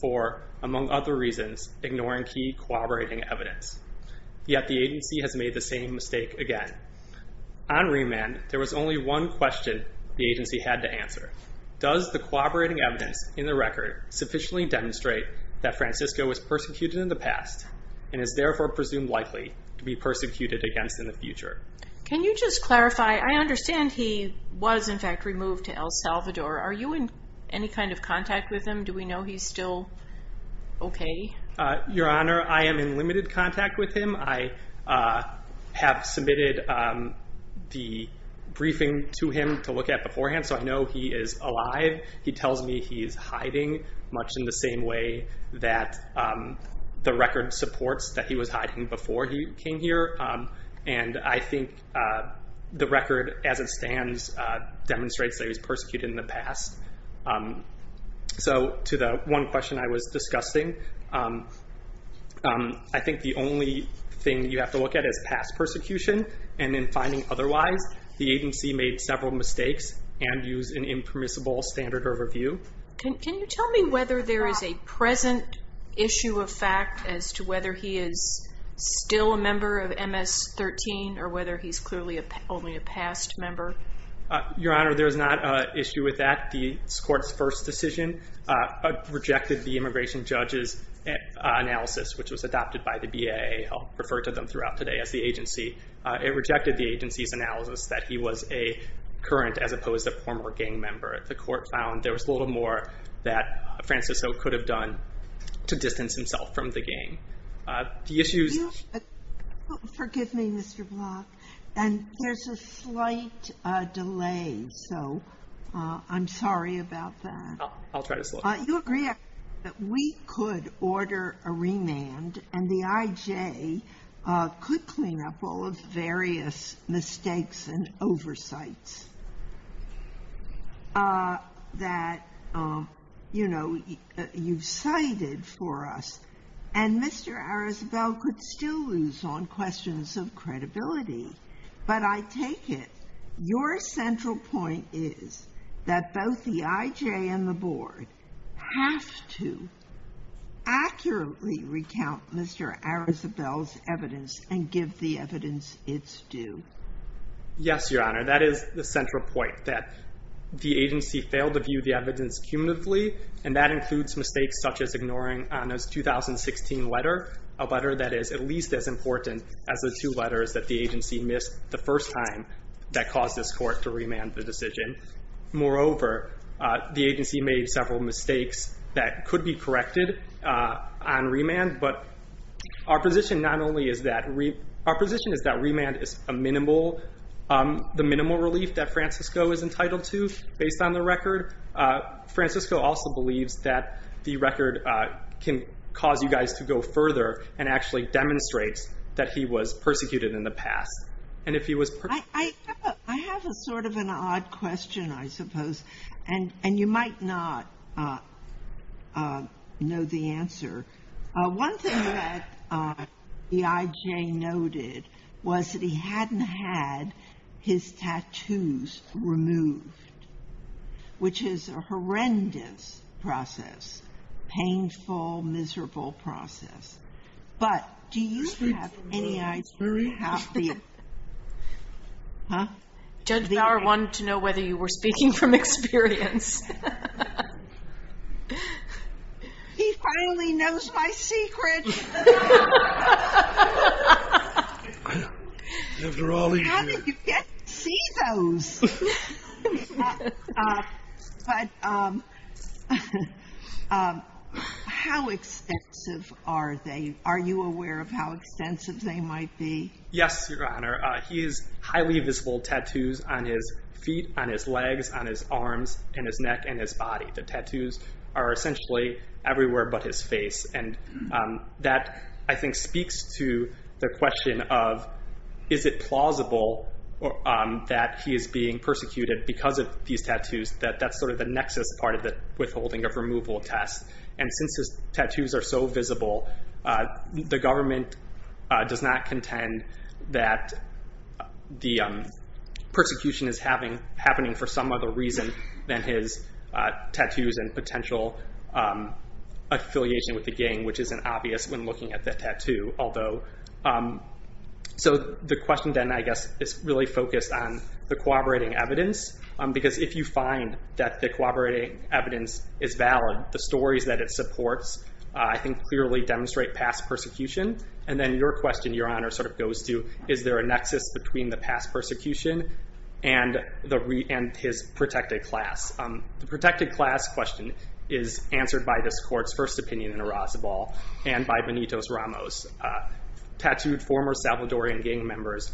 for, among other reasons, ignoring key cooperating evidence. Yet the agency has made the same mistake again. On remand, there was only one question the agency had to answer. Does the cooperating evidence in the record sufficiently demonstrate that Francisco was persecuted in the past and is therefore presumed likely to be persecuted against in the future? Can you just clarify, I understand he was in fact removed to El Salvador. Are you in any kind of contact with him? Do we know he's still okay? Your Honor, I am in limited contact with him. I have submitted the briefing to him to look at beforehand, so I know he is alive. He tells me he is hiding, much in the same way that the record supports that he was hiding before he came here. And I think the record as it stands demonstrates that he was persecuted in the past. So to the one question I was discussing, I think the only thing you have to look at is past persecution. And in finding otherwise, the agency made several mistakes and used an impermissible standard of review. Can you tell me whether there is a present issue of fact as to whether he is still a member of the gang? Your Honor, there is not an issue with that. This Court's first decision rejected the immigration judge's analysis, which was adopted by the BAA. I'll refer to them throughout today as the agency. It rejected the agency's analysis that he was a current as opposed to a former gang member. The Court found there was a little more that Francisco could have done to distance himself from the gang. The issues... Forgive me, Mr. Block. And there's a slight delay, so I'm sorry about that. I'll try to slow down. You agree that we could order a remand and the IJ could clean up all of the various mistakes and oversights that you've cited for us. And Mr. Arizabal could still lose on questions of credibility. But I take it your central point is that both the IJ and the Board have to accurately recount Mr. Arizabal's evidence and give the evidence its due. Yes, Your Honor. That is the central point, that the agency failed to view the evidence cumulatively, and that includes mistakes such as ignoring Anna's 2016 letter, a letter that is at least as important as the two letters that the agency missed the first time that caused this Court to remand the decision. Moreover, the agency made several mistakes that could be corrected on Our position is that remand is the minimal relief that Francisco is entitled to based on the record. Francisco also believes that the record can cause you guys to go further and actually demonstrate that he was persecuted in the past. I have a sort of an odd question, I suppose, and you might not know the answer. One thing that the IJ noted was that he hadn't had his tattoos removed, which is a horrendous process, painful, miserable process. But do you have any idea how the... Judge Bauer wanted to know whether you were speaking from experience. He finally knows my secrets. After all these years. How did you get to see those? How extensive are they? Are you aware of how extensive they might be? Yes, Your Honor. He has highly visible tattoos on his feet, on his legs, on his arms, in his neck and his body. The tattoos are essentially everywhere but his face. And that, I think, speaks to the question of, is it plausible that he is being persecuted because of these tattoos? That's sort of the nexus part of the withholding of removal test. And since his tattoos are so visible, the government does not contend that the persecution is happening for some other reason than his tattoos and potential affiliation with the gang, which isn't obvious when looking at the tattoo. So the question then, I guess, is really focused on the corroborating evidence. Because if you find that the corroborating evidence is valid, the stories that it supports, I think, clearly demonstrate past persecution. And then your question, Your Honor, sort of goes to, is there a nexus between the past persecution and his protected class? The protected class question is answered by this court's first opinion in Arrazabal and by Benitos Ramos. Tattooed former Salvadorian gang members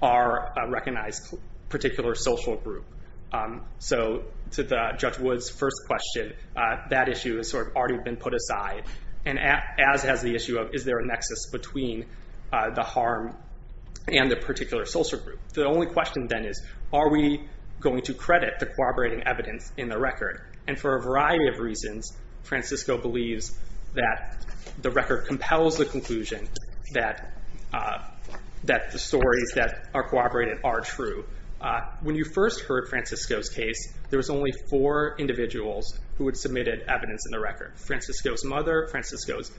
are a recognized particular social group. So to Judge Wood's first question, that issue has sort of already been put aside. And as has the issue of, is there a nexus between the harm and the particular social group? The only question then is, are we going to credit the corroborating evidence in the record? And for a variety of reasons, Francisco believes that the record compels the conclusion that the stories that are corroborated are true. When you first heard Francisco's case, there was only four individuals who had submitted evidence in the record. Francisco's mother, Francisco's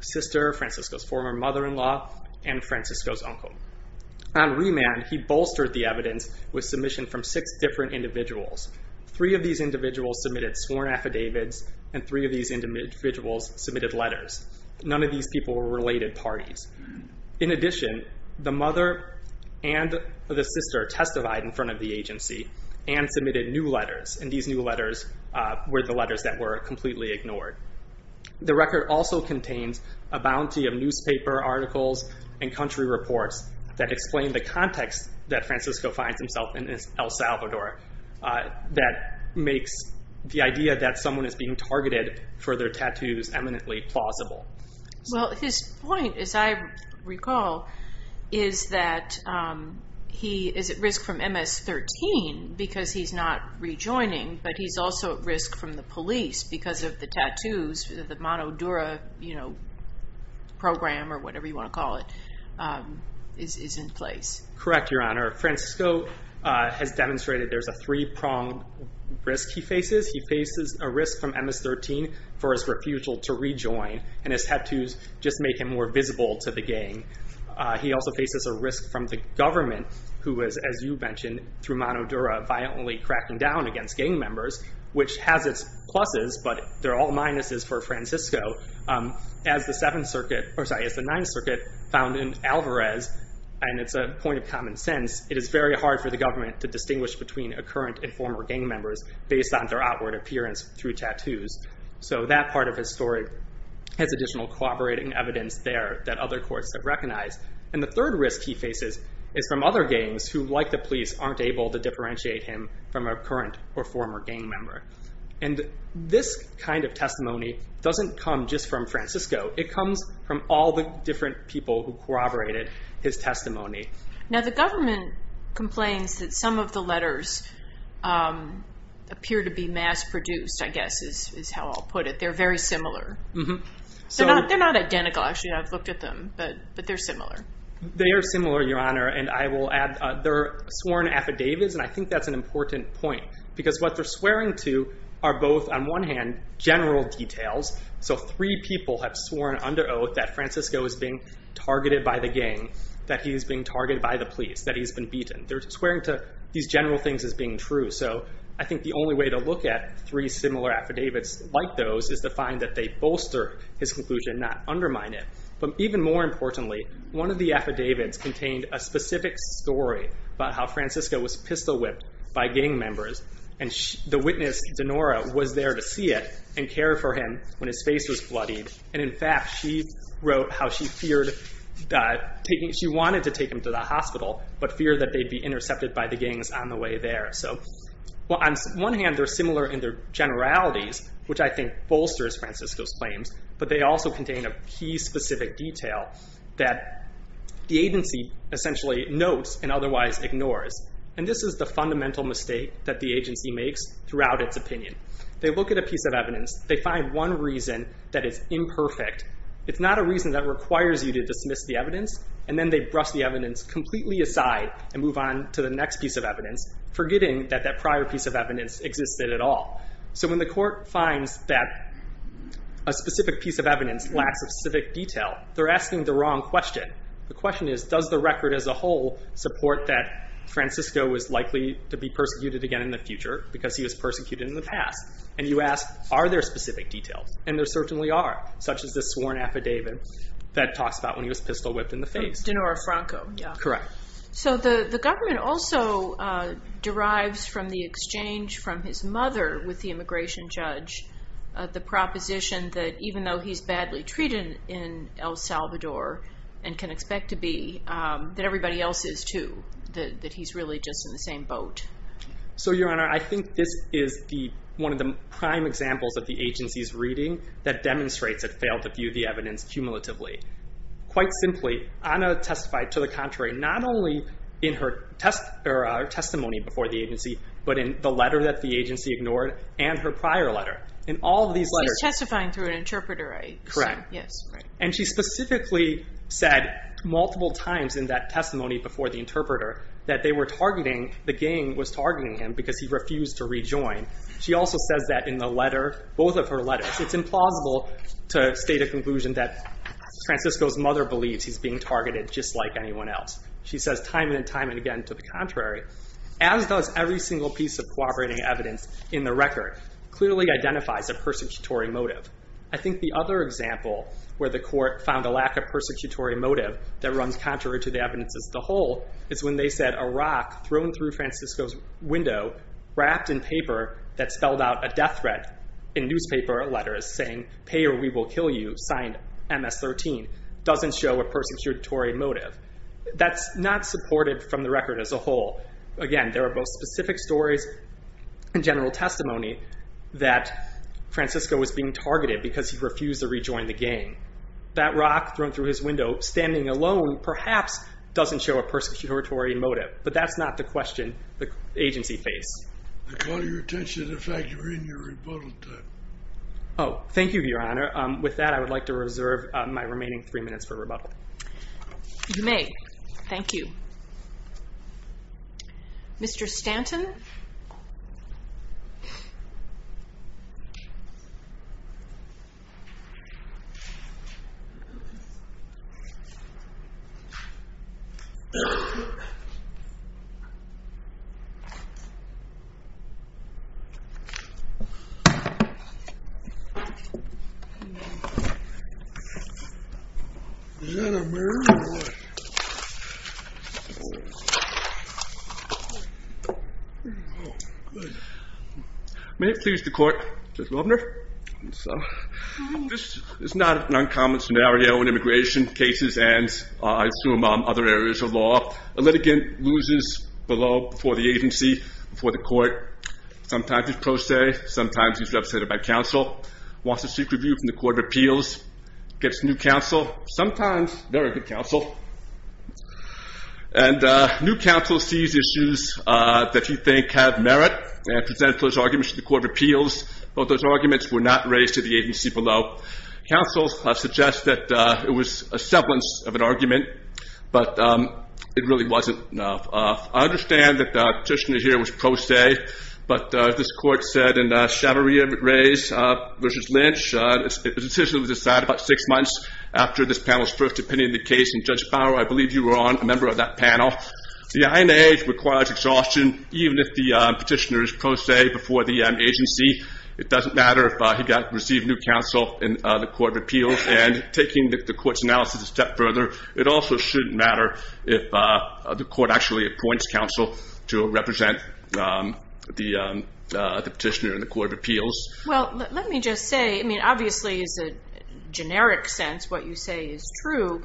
sister, Francisco's former mother-in-law, and Francisco's uncle. On remand, he bolstered the evidence with submission from six different individuals. Three of these individuals submitted sworn affidavits, and three of these individuals submitted letters. None of these people were related parties. In addition, the mother and the sister testified in front of the agency and submitted new letters. And these new letters were the letters that were completely ignored. The record also contains a bounty of newspaper articles and country reports that explain the context that Francisco finds himself in El Salvador, that makes the idea that someone is being targeted for their tattoos eminently plausible. Well, his point, as I recall, is that he is at risk from MS-13 because he's not rejoining, but he's also at risk from the police because of the tattoos, the Monodura program, or whatever you want to call it, is in place. Correct, Your Honor. Francisco has demonstrated there's a three-pronged risk he faces. He faces a risk from MS-13 for his refusal to rejoin, and his tattoos just make him more visible to the gang. He also faces a risk from the government who is, as you which has its pluses, but they're all minuses for Francisco. As the Seventh Circuit, or sorry, as the Ninth Circuit found in Alvarez, and it's a point of common sense, it is very hard for the government to distinguish between a current and former gang members based on their outward appearance through tattoos. So that part of his story has additional corroborating evidence there that other courts have recognized. And the third risk he faces is from other gangs who, like the former gang member. And this kind of testimony doesn't come just from Francisco. It comes from all the different people who corroborated his testimony. Now the government complains that some of the letters appear to be mass-produced, I guess is how I'll put it. They're very similar. They're not identical, actually. I've looked at them, but they're similar. They are similar, and I will add they're sworn affidavits, and I think that's an important point. Because what they're swearing to are both, on one hand, general details. So three people have sworn under oath that Francisco is being targeted by the gang, that he's being targeted by the police, that he's been beaten. They're swearing to these general things as being true. So I think the only way to look at three similar affidavits like those is to find that they bolster his a specific story about how Francisco was pistol whipped by gang members, and the witness, Dinora, was there to see it and care for him when his face was bloodied. And in fact, she wrote how she wanted to take him to the hospital, but feared that they'd be intercepted by the gangs on the way there. So on one hand, they're similar in their generalities, which I think bolsters Francisco's The agency essentially notes and otherwise ignores, and this is the fundamental mistake that the agency makes throughout its opinion. They look at a piece of evidence, they find one reason that is imperfect. It's not a reason that requires you to dismiss the evidence, and then they brush the evidence completely aside and move on to the next piece of evidence, forgetting that that prior piece of evidence existed at all. So when the court finds that a specific piece of evidence lacks a specific detail, they're asking the wrong question. The question is, does the record as a whole support that Francisco was likely to be persecuted again in the future because he was persecuted in the past? And you ask, are there specific details? And there certainly are, such as this sworn affidavit that talks about when he was pistol whipped in the face. Dinora Franco. Correct. So the government also derives from the exchange from his mother with the immigration judge the proposition that even though he's badly treated in El Salvador and can expect to be, that everybody else is too, that he's really just in the same boat. So your honor, I think this is the one of the prime examples of the agency's reading that demonstrates it failed to view the evidence cumulatively. Quite simply, Ana testified to the contrary, not only in her testimony before the agency, but in the letter that the agency ignored and her prior letter. In all of these letters. She's testifying through an interpreter, right? Correct. And she specifically said multiple times in that testimony before the interpreter that they were targeting, the gang was targeting him because he refused to rejoin. She also says that in the letter, both of her letters, it's implausible to state a conclusion that Francisco's mother believes he's being targeted just like every single piece of corroborating evidence in the record clearly identifies a persecutory motive. I think the other example where the court found a lack of persecutory motive that runs contrary to the evidence as the whole is when they said a rock thrown through Francisco's window wrapped in paper that spelled out a death threat in newspaper letters saying pay or we will kill you signed MS-13 doesn't show a persecutory motive. That's not supported from the record as a whole. Again, there are both specific stories and general testimony that Francisco was being targeted because he refused to rejoin the gang. That rock thrown through his window, standing alone, perhaps doesn't show a persecutory motive, but that's not the question the agency faced. They caught your attention. In fact, you're in your rebuttal time. Oh, thank you, Your Honor. With that, I would like to reserve my remaining three minutes for rebuttal. You may. Thank you. Mr. Stanton? May it please the court, Judge Welbner? This is not an uncommon scenario in immigration cases and I assume other areas of law. A litigant loses below, before the agency, before the court. Sometimes he's pro se. Sometimes he's represented by counsel. Wants a secret review from the Court of Appeals. Gets new counsel. Sometimes they're a good counsel. And new counsel sees issues that he thinks have merit and presents those arguments to the Court of Appeals, but those arguments were not raised to the agency below. Counsel suggests that it was a semblance of an argument, but it really wasn't. I understand that the petitioner here was pro se, but this court said in Chavarria v. Lynch, the decision was decided about six months after this panel's first opinion of the case, and Judge Bauer, I believe you were on, a member of that panel. The INAH requires exhaustion, even if the petitioner is pro se before the agency. It doesn't matter if he received new counsel in the Court of Appeals. And taking the court's analysis a step further, it also shouldn't matter if the court actually appoints counsel to represent the petitioner in the Court of Appeals. Well, let me just say, I mean, obviously is a generic sense what you say is true,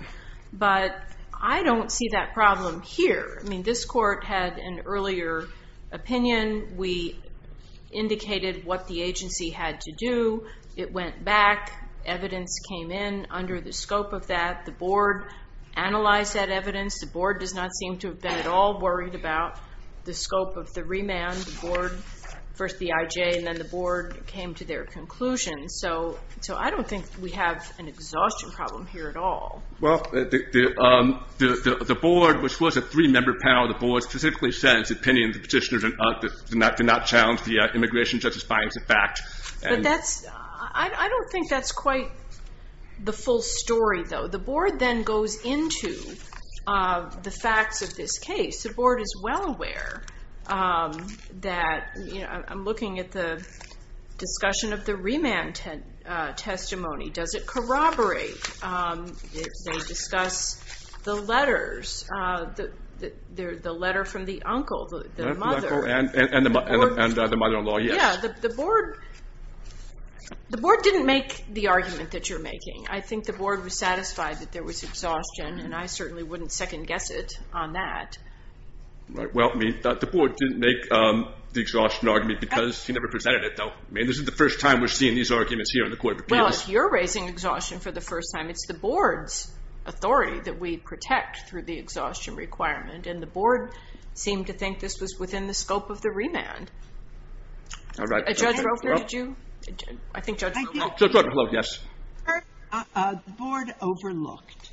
but I don't see that problem here. I mean, this court had an earlier opinion. We indicated what the agency had to do. It went back. Evidence came in under the scope of that. The board analyzed that evidence. The board does not seem to have been at all worried about the scope of the remand. The board, first the IJ, and then the board came to their conclusion. So I don't think we have an exhaustion problem here at all. Well, the board, which was a three-member panel, the board specifically said in its opinion the petitioner did not challenge the immigration justice findings in fact. But that's, I don't think that's quite the full story, though. The board then goes into the facts of this case. The board is well aware that, you know, I'm looking at the discussion of the remand testimony. Does it corroborate? They discuss the letters, the letter from the uncle, the mother. And the mother The board didn't make the argument that you're making. I think the board was satisfied that there was exhaustion, and I certainly wouldn't second-guess it on that. Right. Well, I mean, the board didn't make the exhaustion argument because he never presented it, though. I mean, this is the first time we're seeing these arguments here in the court of appeals. Well, if you're raising exhaustion for the first time, it's the board's authority that we protect through the exhaustion requirement. And the board seemed to think this was within the scope of the remand. All right. Judge Roper, did you? I think Judge Roper. Judge Roper, hello, yes. The board overlooked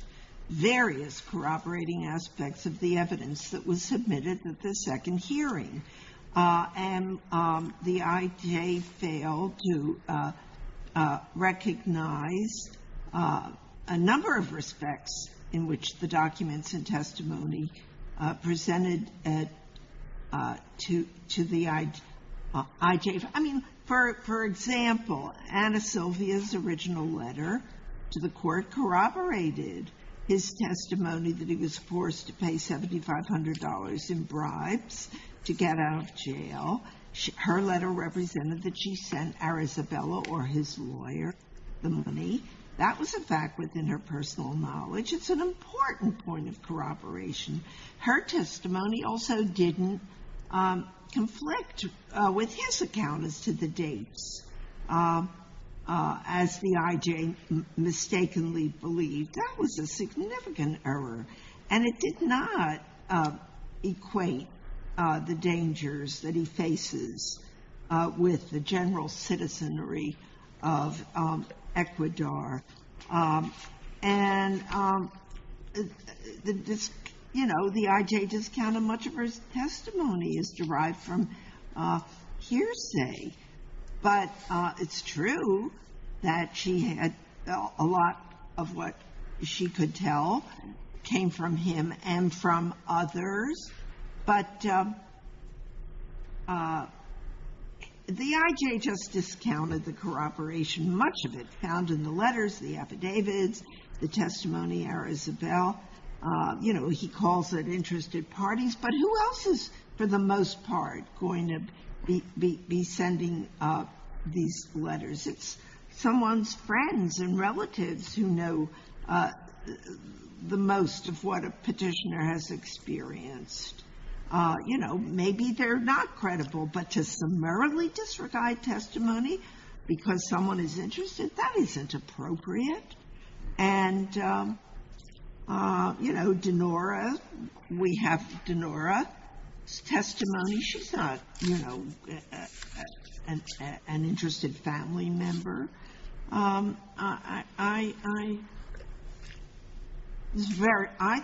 various corroborating aspects of the evidence that was submitted at the second hearing. And the IJ failed to recognize a number of respects in which the I mean, for example, Anna Sylvia's original letter to the court corroborated his testimony that he was forced to pay $7,500 in bribes to get out of jail. Her letter represented that she sent Arizabella or his lawyer the money. That was a fact within her personal knowledge. It's an account as to the dates. As the IJ mistakenly believed, that was a significant error. And it did not equate the dangers that he faces with the general citizenry of Ecuador. And the, you know, the IJ discounted much of her testimony as derived from hearsay. But it's true that she had a lot of what she could tell came from him and from others. But the IJ just discounted the corroboration. Much of it found in the letters, the affidavits, the testimony, Arizabella. You know, he calls it interested parties. But who else is, for the most part, going to be sending these letters? It's someone's friends and relatives who know the most of what a Petitioner has experienced. You know, maybe they're not credible, but to summarily disregard testimony because someone is interested, that isn't appropriate. And, you know, Dinora, we have Dinora's testimony. She's not, you know, an interested family member. I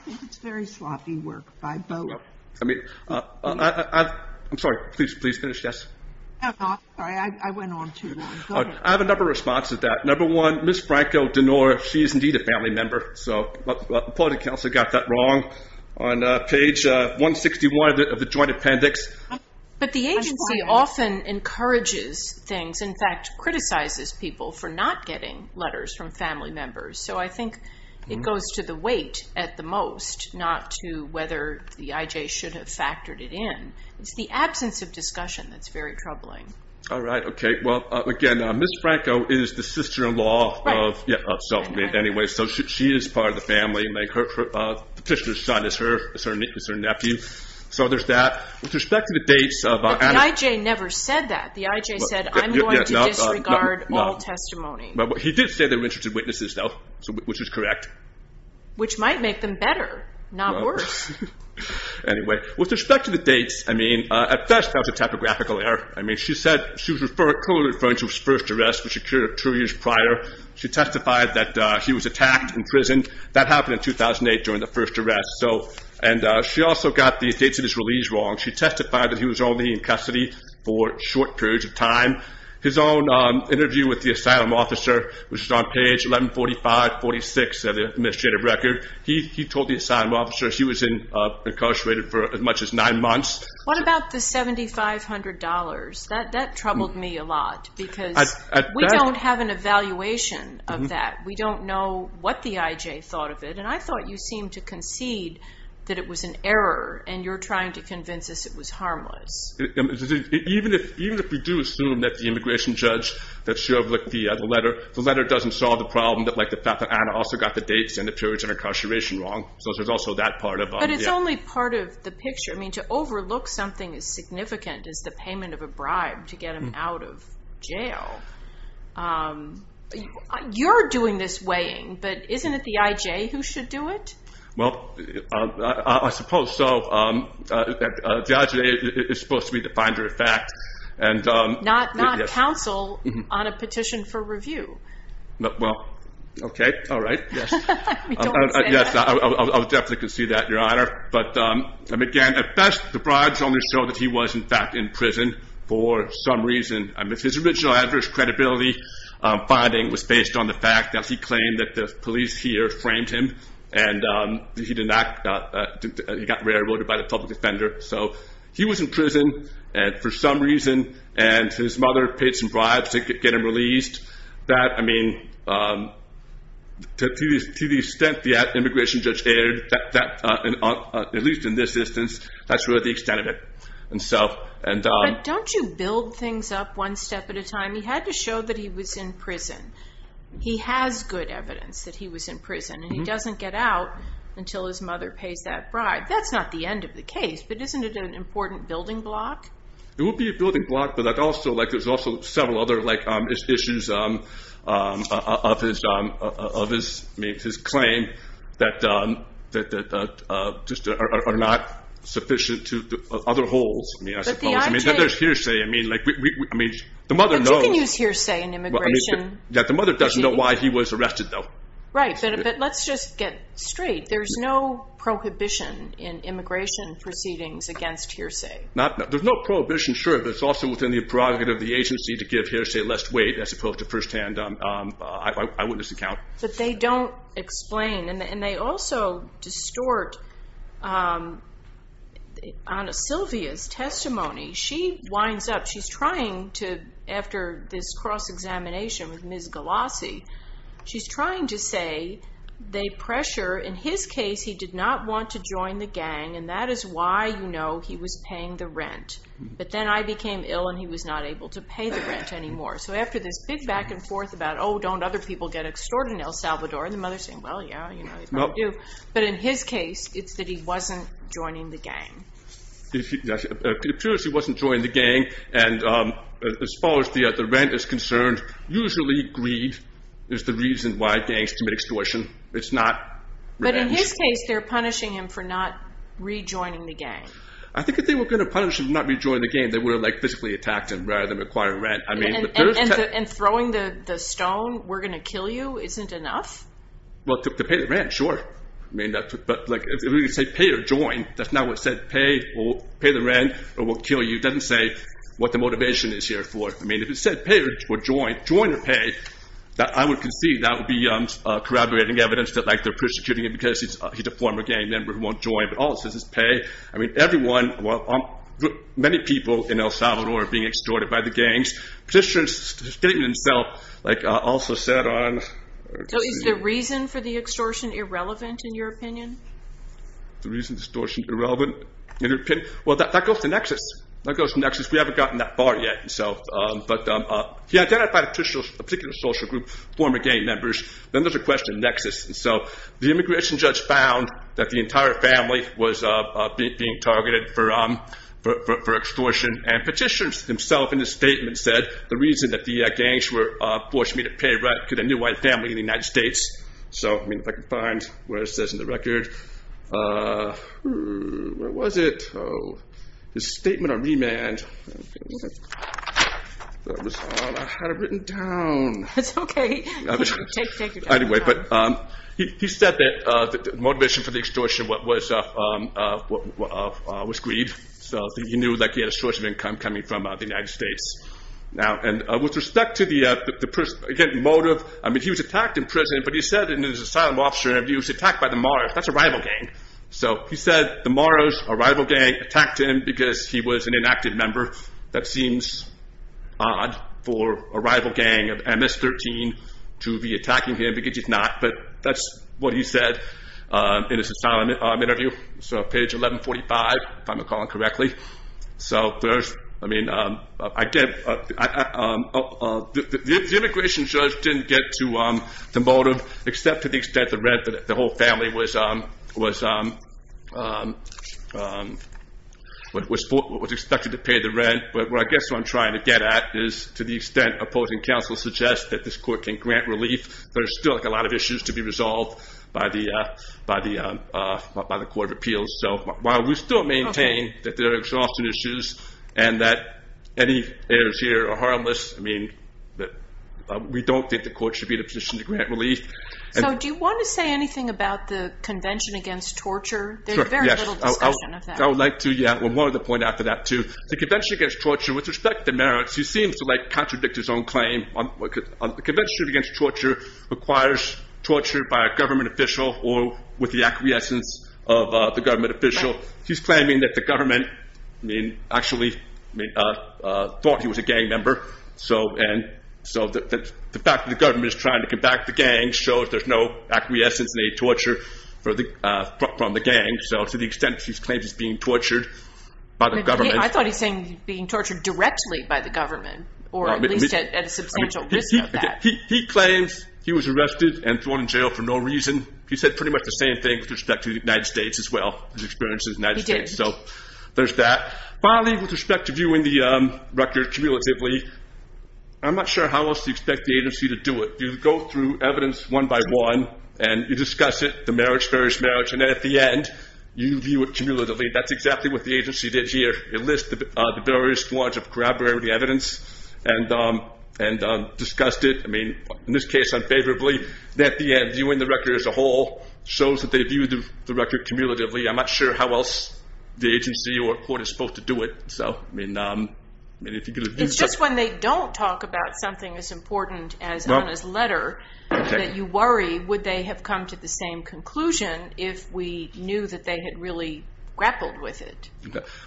think it's very sloppy work by both. I mean, I'm sorry. Please, please finish, Jess. I'm sorry. I went on too long. I have a number of responses to that. Number one, Ms. Franco-Dinora, she is indeed a family member. So the Appointed Counselor got that wrong on page 161 of the Joint Appendix. But the agency often encourages things, in fact, criticizes people for not getting letters from family members. So I think it goes to the weight at the most, not to whether the IJ should have factored it in. It's the absence of discussion that's very troubling. All right. Okay. Well, again, Ms. Franco is the sister-in-law of, yeah, so anyway, so she is part of the family. Petitioner's son is her nephew. So there's that. With respect to the dates of- But the IJ never said that. The IJ said, I'm going to disregard all testimony. He did say they were interested witnesses, though, which is correct. Which might make them better, not worse. Anyway, with respect to the dates, I mean, at best, that was a typographical error. I mean, she was clearly referring to his first arrest, which occurred two years prior. She testified that he was attacked in prison. That happened in 2008 during the first arrest. And she also got the dates of his release wrong. She testified that he was only in custody for short periods of time. His own interview with the asylum officer, which is on page 1145-46 of the administrative record, he told the asylum officer he was incarcerated for as much as nine years. That troubled me a lot, because we don't have an evaluation of that. We don't know what the IJ thought of it. And I thought you seemed to concede that it was an error, and you're trying to convince us it was harmless. Even if we do assume that the immigration judge, that she overlooked the letter, the letter doesn't solve the problem, like the fact that Anna also got the dates and the periods of incarceration wrong. So there's also that part of- But it's only part of the picture. I mean, to overlook something as significant as the time to get him out of jail. You're doing this weighing, but isn't it the IJ who should do it? Well, I suppose so. The IJ is supposed to be the finder of fact. Not counsel on a petition for review. Well, okay. All right. Yes. I mean, don't say that. Yes, I'll definitely concede that, Your Honor. But again, at best, the bribes only show that he was, in fact, in prison for some reason. I mean, his original adverse credibility finding was based on the fact that he claimed that the police here framed him. And he got railroaded by the public defender. So he was in prison, and for some reason, and his mother paid some bribes to get him released. That, I mean, to the extent the And so- But don't you build things up one step at a time? He had to show that he was in prison. He has good evidence that he was in prison, and he doesn't get out until his mother pays that bribe. That's not the end of the case, but isn't it an important building block? It would be a building block, but there's also several other issues of his claim that just are not sufficient to other holes, I mean, I suppose. But the idea- I mean, there's hearsay. I mean, the mother knows- But you can use hearsay in immigration proceedings. Yeah, the mother doesn't know why he was arrested, though. Right, but let's just get straight. There's no prohibition in immigration proceedings against hearsay. Not, there's no prohibition, sure, but it's also within the prerogative of the agency to give hearsay lest wait, as opposed to firsthand eyewitness account. But they don't explain, and they also distort Ana Silvia's testimony. She winds up, she's trying to, after this cross-examination with Ms. Galassi, she's trying to say they pressure. In his case, he did not want to join the gang, and that is why, you know, he was paying the rent. But then I became ill, and he was not able to pay the rent anymore. So after this big back and forth about, oh, don't other people get extorted in El Salvador, and the mother's saying, well, yeah, you know, they probably do. But in his case, it's that he wasn't joining the gang. It appears he wasn't joining the gang, and as far as the rent is concerned, usually greed is the reason why gangs commit extortion. It's not revenge. But in his case, they're punishing him for not rejoining the gang. I think if they were going to punish him for not rejoining the gang, they would have like physically attacked him rather than requiring rent. And throwing the stone, we're going to kill you, isn't enough? Well, to pay the rent, sure. But if you say pay or join, that's not what it said. Pay the rent or we'll kill you doesn't say what the motivation is here for. I mean, if it said pay or join, join or pay, I would concede that would be corroborating evidence that they're persecuting him because he's a former gang member who won't join. But all it says is pay. I mean, everyone, many people in El Salvador are being extorted by the gangs. Petitioner's statement itself also said on... So is the reason for the extortion irrelevant in your opinion? The reason extortion irrelevant in your opinion? Well, that goes to Nexus. That goes to Nexus. We haven't gotten that far yet. But he identified a particular social group, former gang members. Then there's a question of Nexus. So the immigration judge found that the entire family was being targeted for extortion. And petitioner himself in his statement said, the reason that the gangs were forcing me to pay rent to the new white family in the United States. So I mean, if I could find where it says in the record, where was it? His statement on remand. That was all I had written down. That's okay. Anyway, but he said that the motivation for the extortion was greed. So he knew that he had a source of income coming from the United States. Now, and with respect to the motive, I mean, he was attacked in prison, but he said in his asylum officer interview, he was attacked by the Maros. That's a rival gang. So he said the Maros, a rival gang, attacked him because he was an inactive member. That seems odd for a rival gang of MS-13 to be attacking him because he's not. But that's what he said in his asylum interview. So page 1145, if I'm recalling correctly. So first, I mean, the immigration judge didn't get to the motive, except to the extent the rent that the whole family was expected to pay the rent. But what I guess what I'm trying to get at is to the extent opposing counsel suggests that this court can grant relief, there's still a lot of issues to be resolved by the court of appeals. So while we still maintain that there are exhaustion issues, and that any errors here are harmless, I mean, we don't think the court should be in a position to grant relief. So do you want to say anything about the Convention Against Torture? There's very little discussion of that. I would like to, yeah, I wanted to point out to that too. The Convention Against Torture, with respect to the merits, he seems to contradict his own claim. The Convention Against Torture requires torture by a government official or with the acquiescence of the government official. He's claiming that the government actually thought he was a gang member. So the fact that the government is trying to combat the gang shows there's no acquiescence in any torture from the gang. So to the extent he's claimed he's being tortured by the government. I thought he's saying being tortured directly by the government, or at least at a substantial risk of that. He claims he was arrested and thrown in jail for no reason. He said pretty much the same thing with respect to the United States as well, his experience in the United States. So there's that. Finally, with respect to viewing the record cumulatively, I'm not sure how else you expect the agency to do it. You go through evidence one by one, and you discuss it, the merits, various merits, and then at the end, you view it cumulatively. That's exactly what the agency did here. It lists the various forms of corroborating the evidence and discussed it. I mean, in this case, unfavorably. At the end, viewing the record as a whole shows that they viewed the record cumulatively. I'm not sure how else the agency or court is supposed to do it. So, I mean, if you could have used that- It's just when they don't talk about something as important as Hanna's letter that you worry, would they have come to the same conclusion if we knew that they had really grappled with it?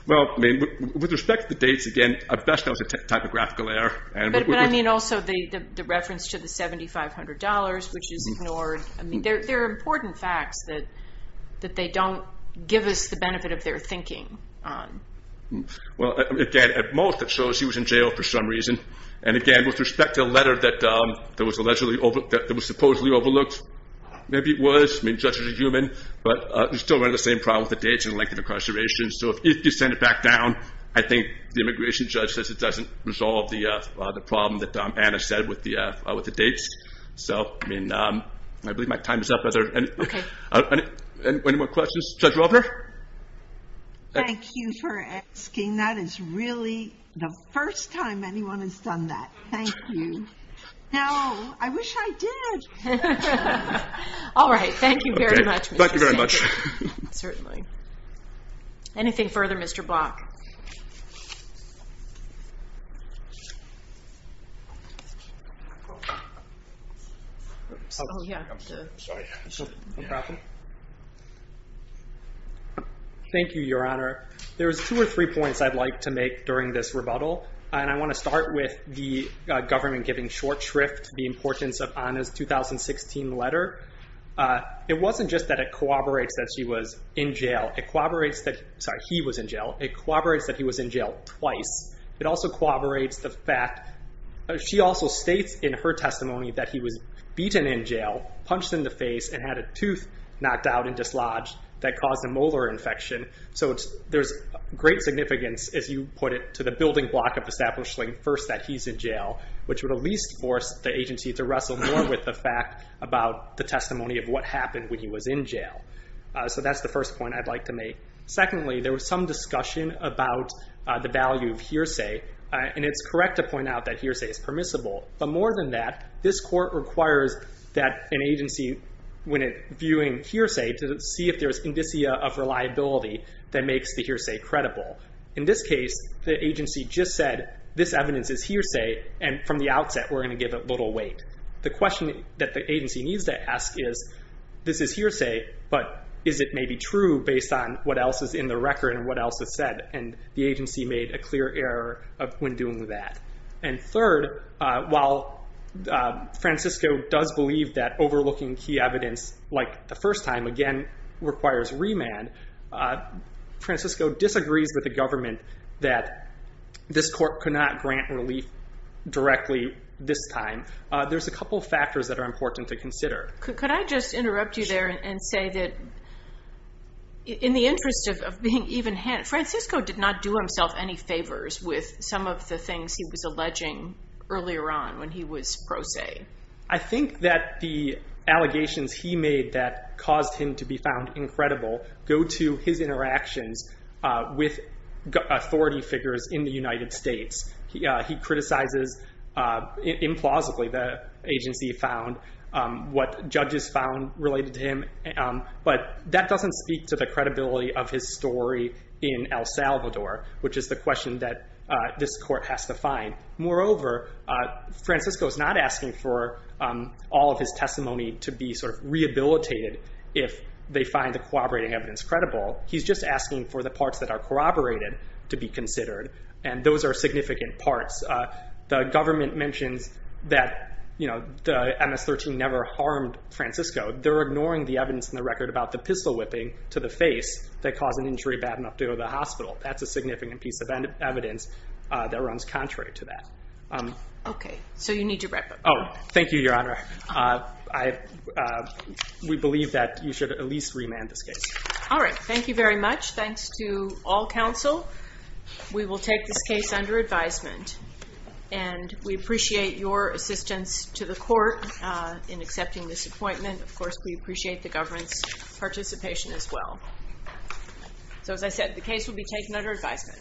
Well, I mean, with respect to the dates, again, at best, that was a typographical error. But, I mean, also the reference to the $7,500, which is ignored. I mean, they're important facts that they don't give us the benefit of their thinking on. Well, again, at most, it shows he was in jail for some reason. And again, with respect to a letter that was allegedly overlooked, maybe it was, I mean, the judge was a human, but he still ran into the same problem with the dates and length of incarceration. So if you send it back down, I think the immigration judge says it doesn't resolve the problem that Hanna said with the dates. So, I mean, I believe my time is up. Are there any more questions? Judge Rovner? Thank you for asking. That is really the first time anyone has done that. Thank you. Now, I wish I did. All right. Thank you very much. Thank you very much. Certainly. Anything further, Mr. Block? Thank you, Your Honor. There's two or three points I'd like to make during this rebuttal. And I want to start with the government giving short shrift the importance of Hanna's 2016 letter. It wasn't just that it corroborates that she was in jail. It corroborates that he was in jail. It corroborates that he was in jail twice. It also corroborates the fact she also states in her testimony that he was beaten in jail, punched in the face, and had a tooth knocked out and dislodged that caused a molar infection. So there's great significance, as you put it, to the building block of establishing first that he's in jail, which would at least force the agency to wrestle more with the fact about the testimony of what happened when he was in jail. So that's the first point I'd like Secondly, there was some discussion about the value of hearsay, and it's correct to point out that hearsay is permissible. But more than that, this court requires that an agency, when viewing hearsay, to see if there's indicia of reliability that makes the hearsay credible. In this case, the agency just said, this evidence is hearsay, and from the outset, we're going to give it little weight. The question that the agency needs to ask is, this is hearsay, but is it maybe true based on what else is in the record and what else is said? And the agency made a clear error when doing that. And third, while Francisco does believe that overlooking key evidence like the first time, again, requires remand, Francisco disagrees with the government that this court could not grant relief directly this time. There's a couple of factors that are important to consider. Could I just interrupt you there and say that, in the interest of being even-handed, Francisco did not do himself any favors with some of the things he was alleging earlier on when he was pro se. I think that the allegations he made that caused him to be found incredible go to his interactions with authority figures in the United States. He criticizes, implausibly, the agency found what judges found related to him. But that doesn't speak to the credibility of his story in El Salvador, which is the question that this court has to find. Moreover, Francisco is not asking for all of his testimony to be rehabilitated if they find the corroborating evidence credible. He's just asking for the parts that are corroborated to be considered. And those are significant parts. The government mentions that the MS-13 never harmed Francisco. They're ignoring the evidence in the record about the pistol whipping to the face that caused an injury bad enough to go to the hospital. That's a significant piece of evidence that runs contrary to that. Okay. So you need to wrap up. Oh, thank you, Your Honor. We believe that you should at least remand this case. All right. Thank you very much. Thanks to all counsel. We will take this case under advisement. And we appreciate your assistance to the court in accepting this appointment. Of course, we appreciate the government's participation as well. So as I said, the case will be taken under advisement.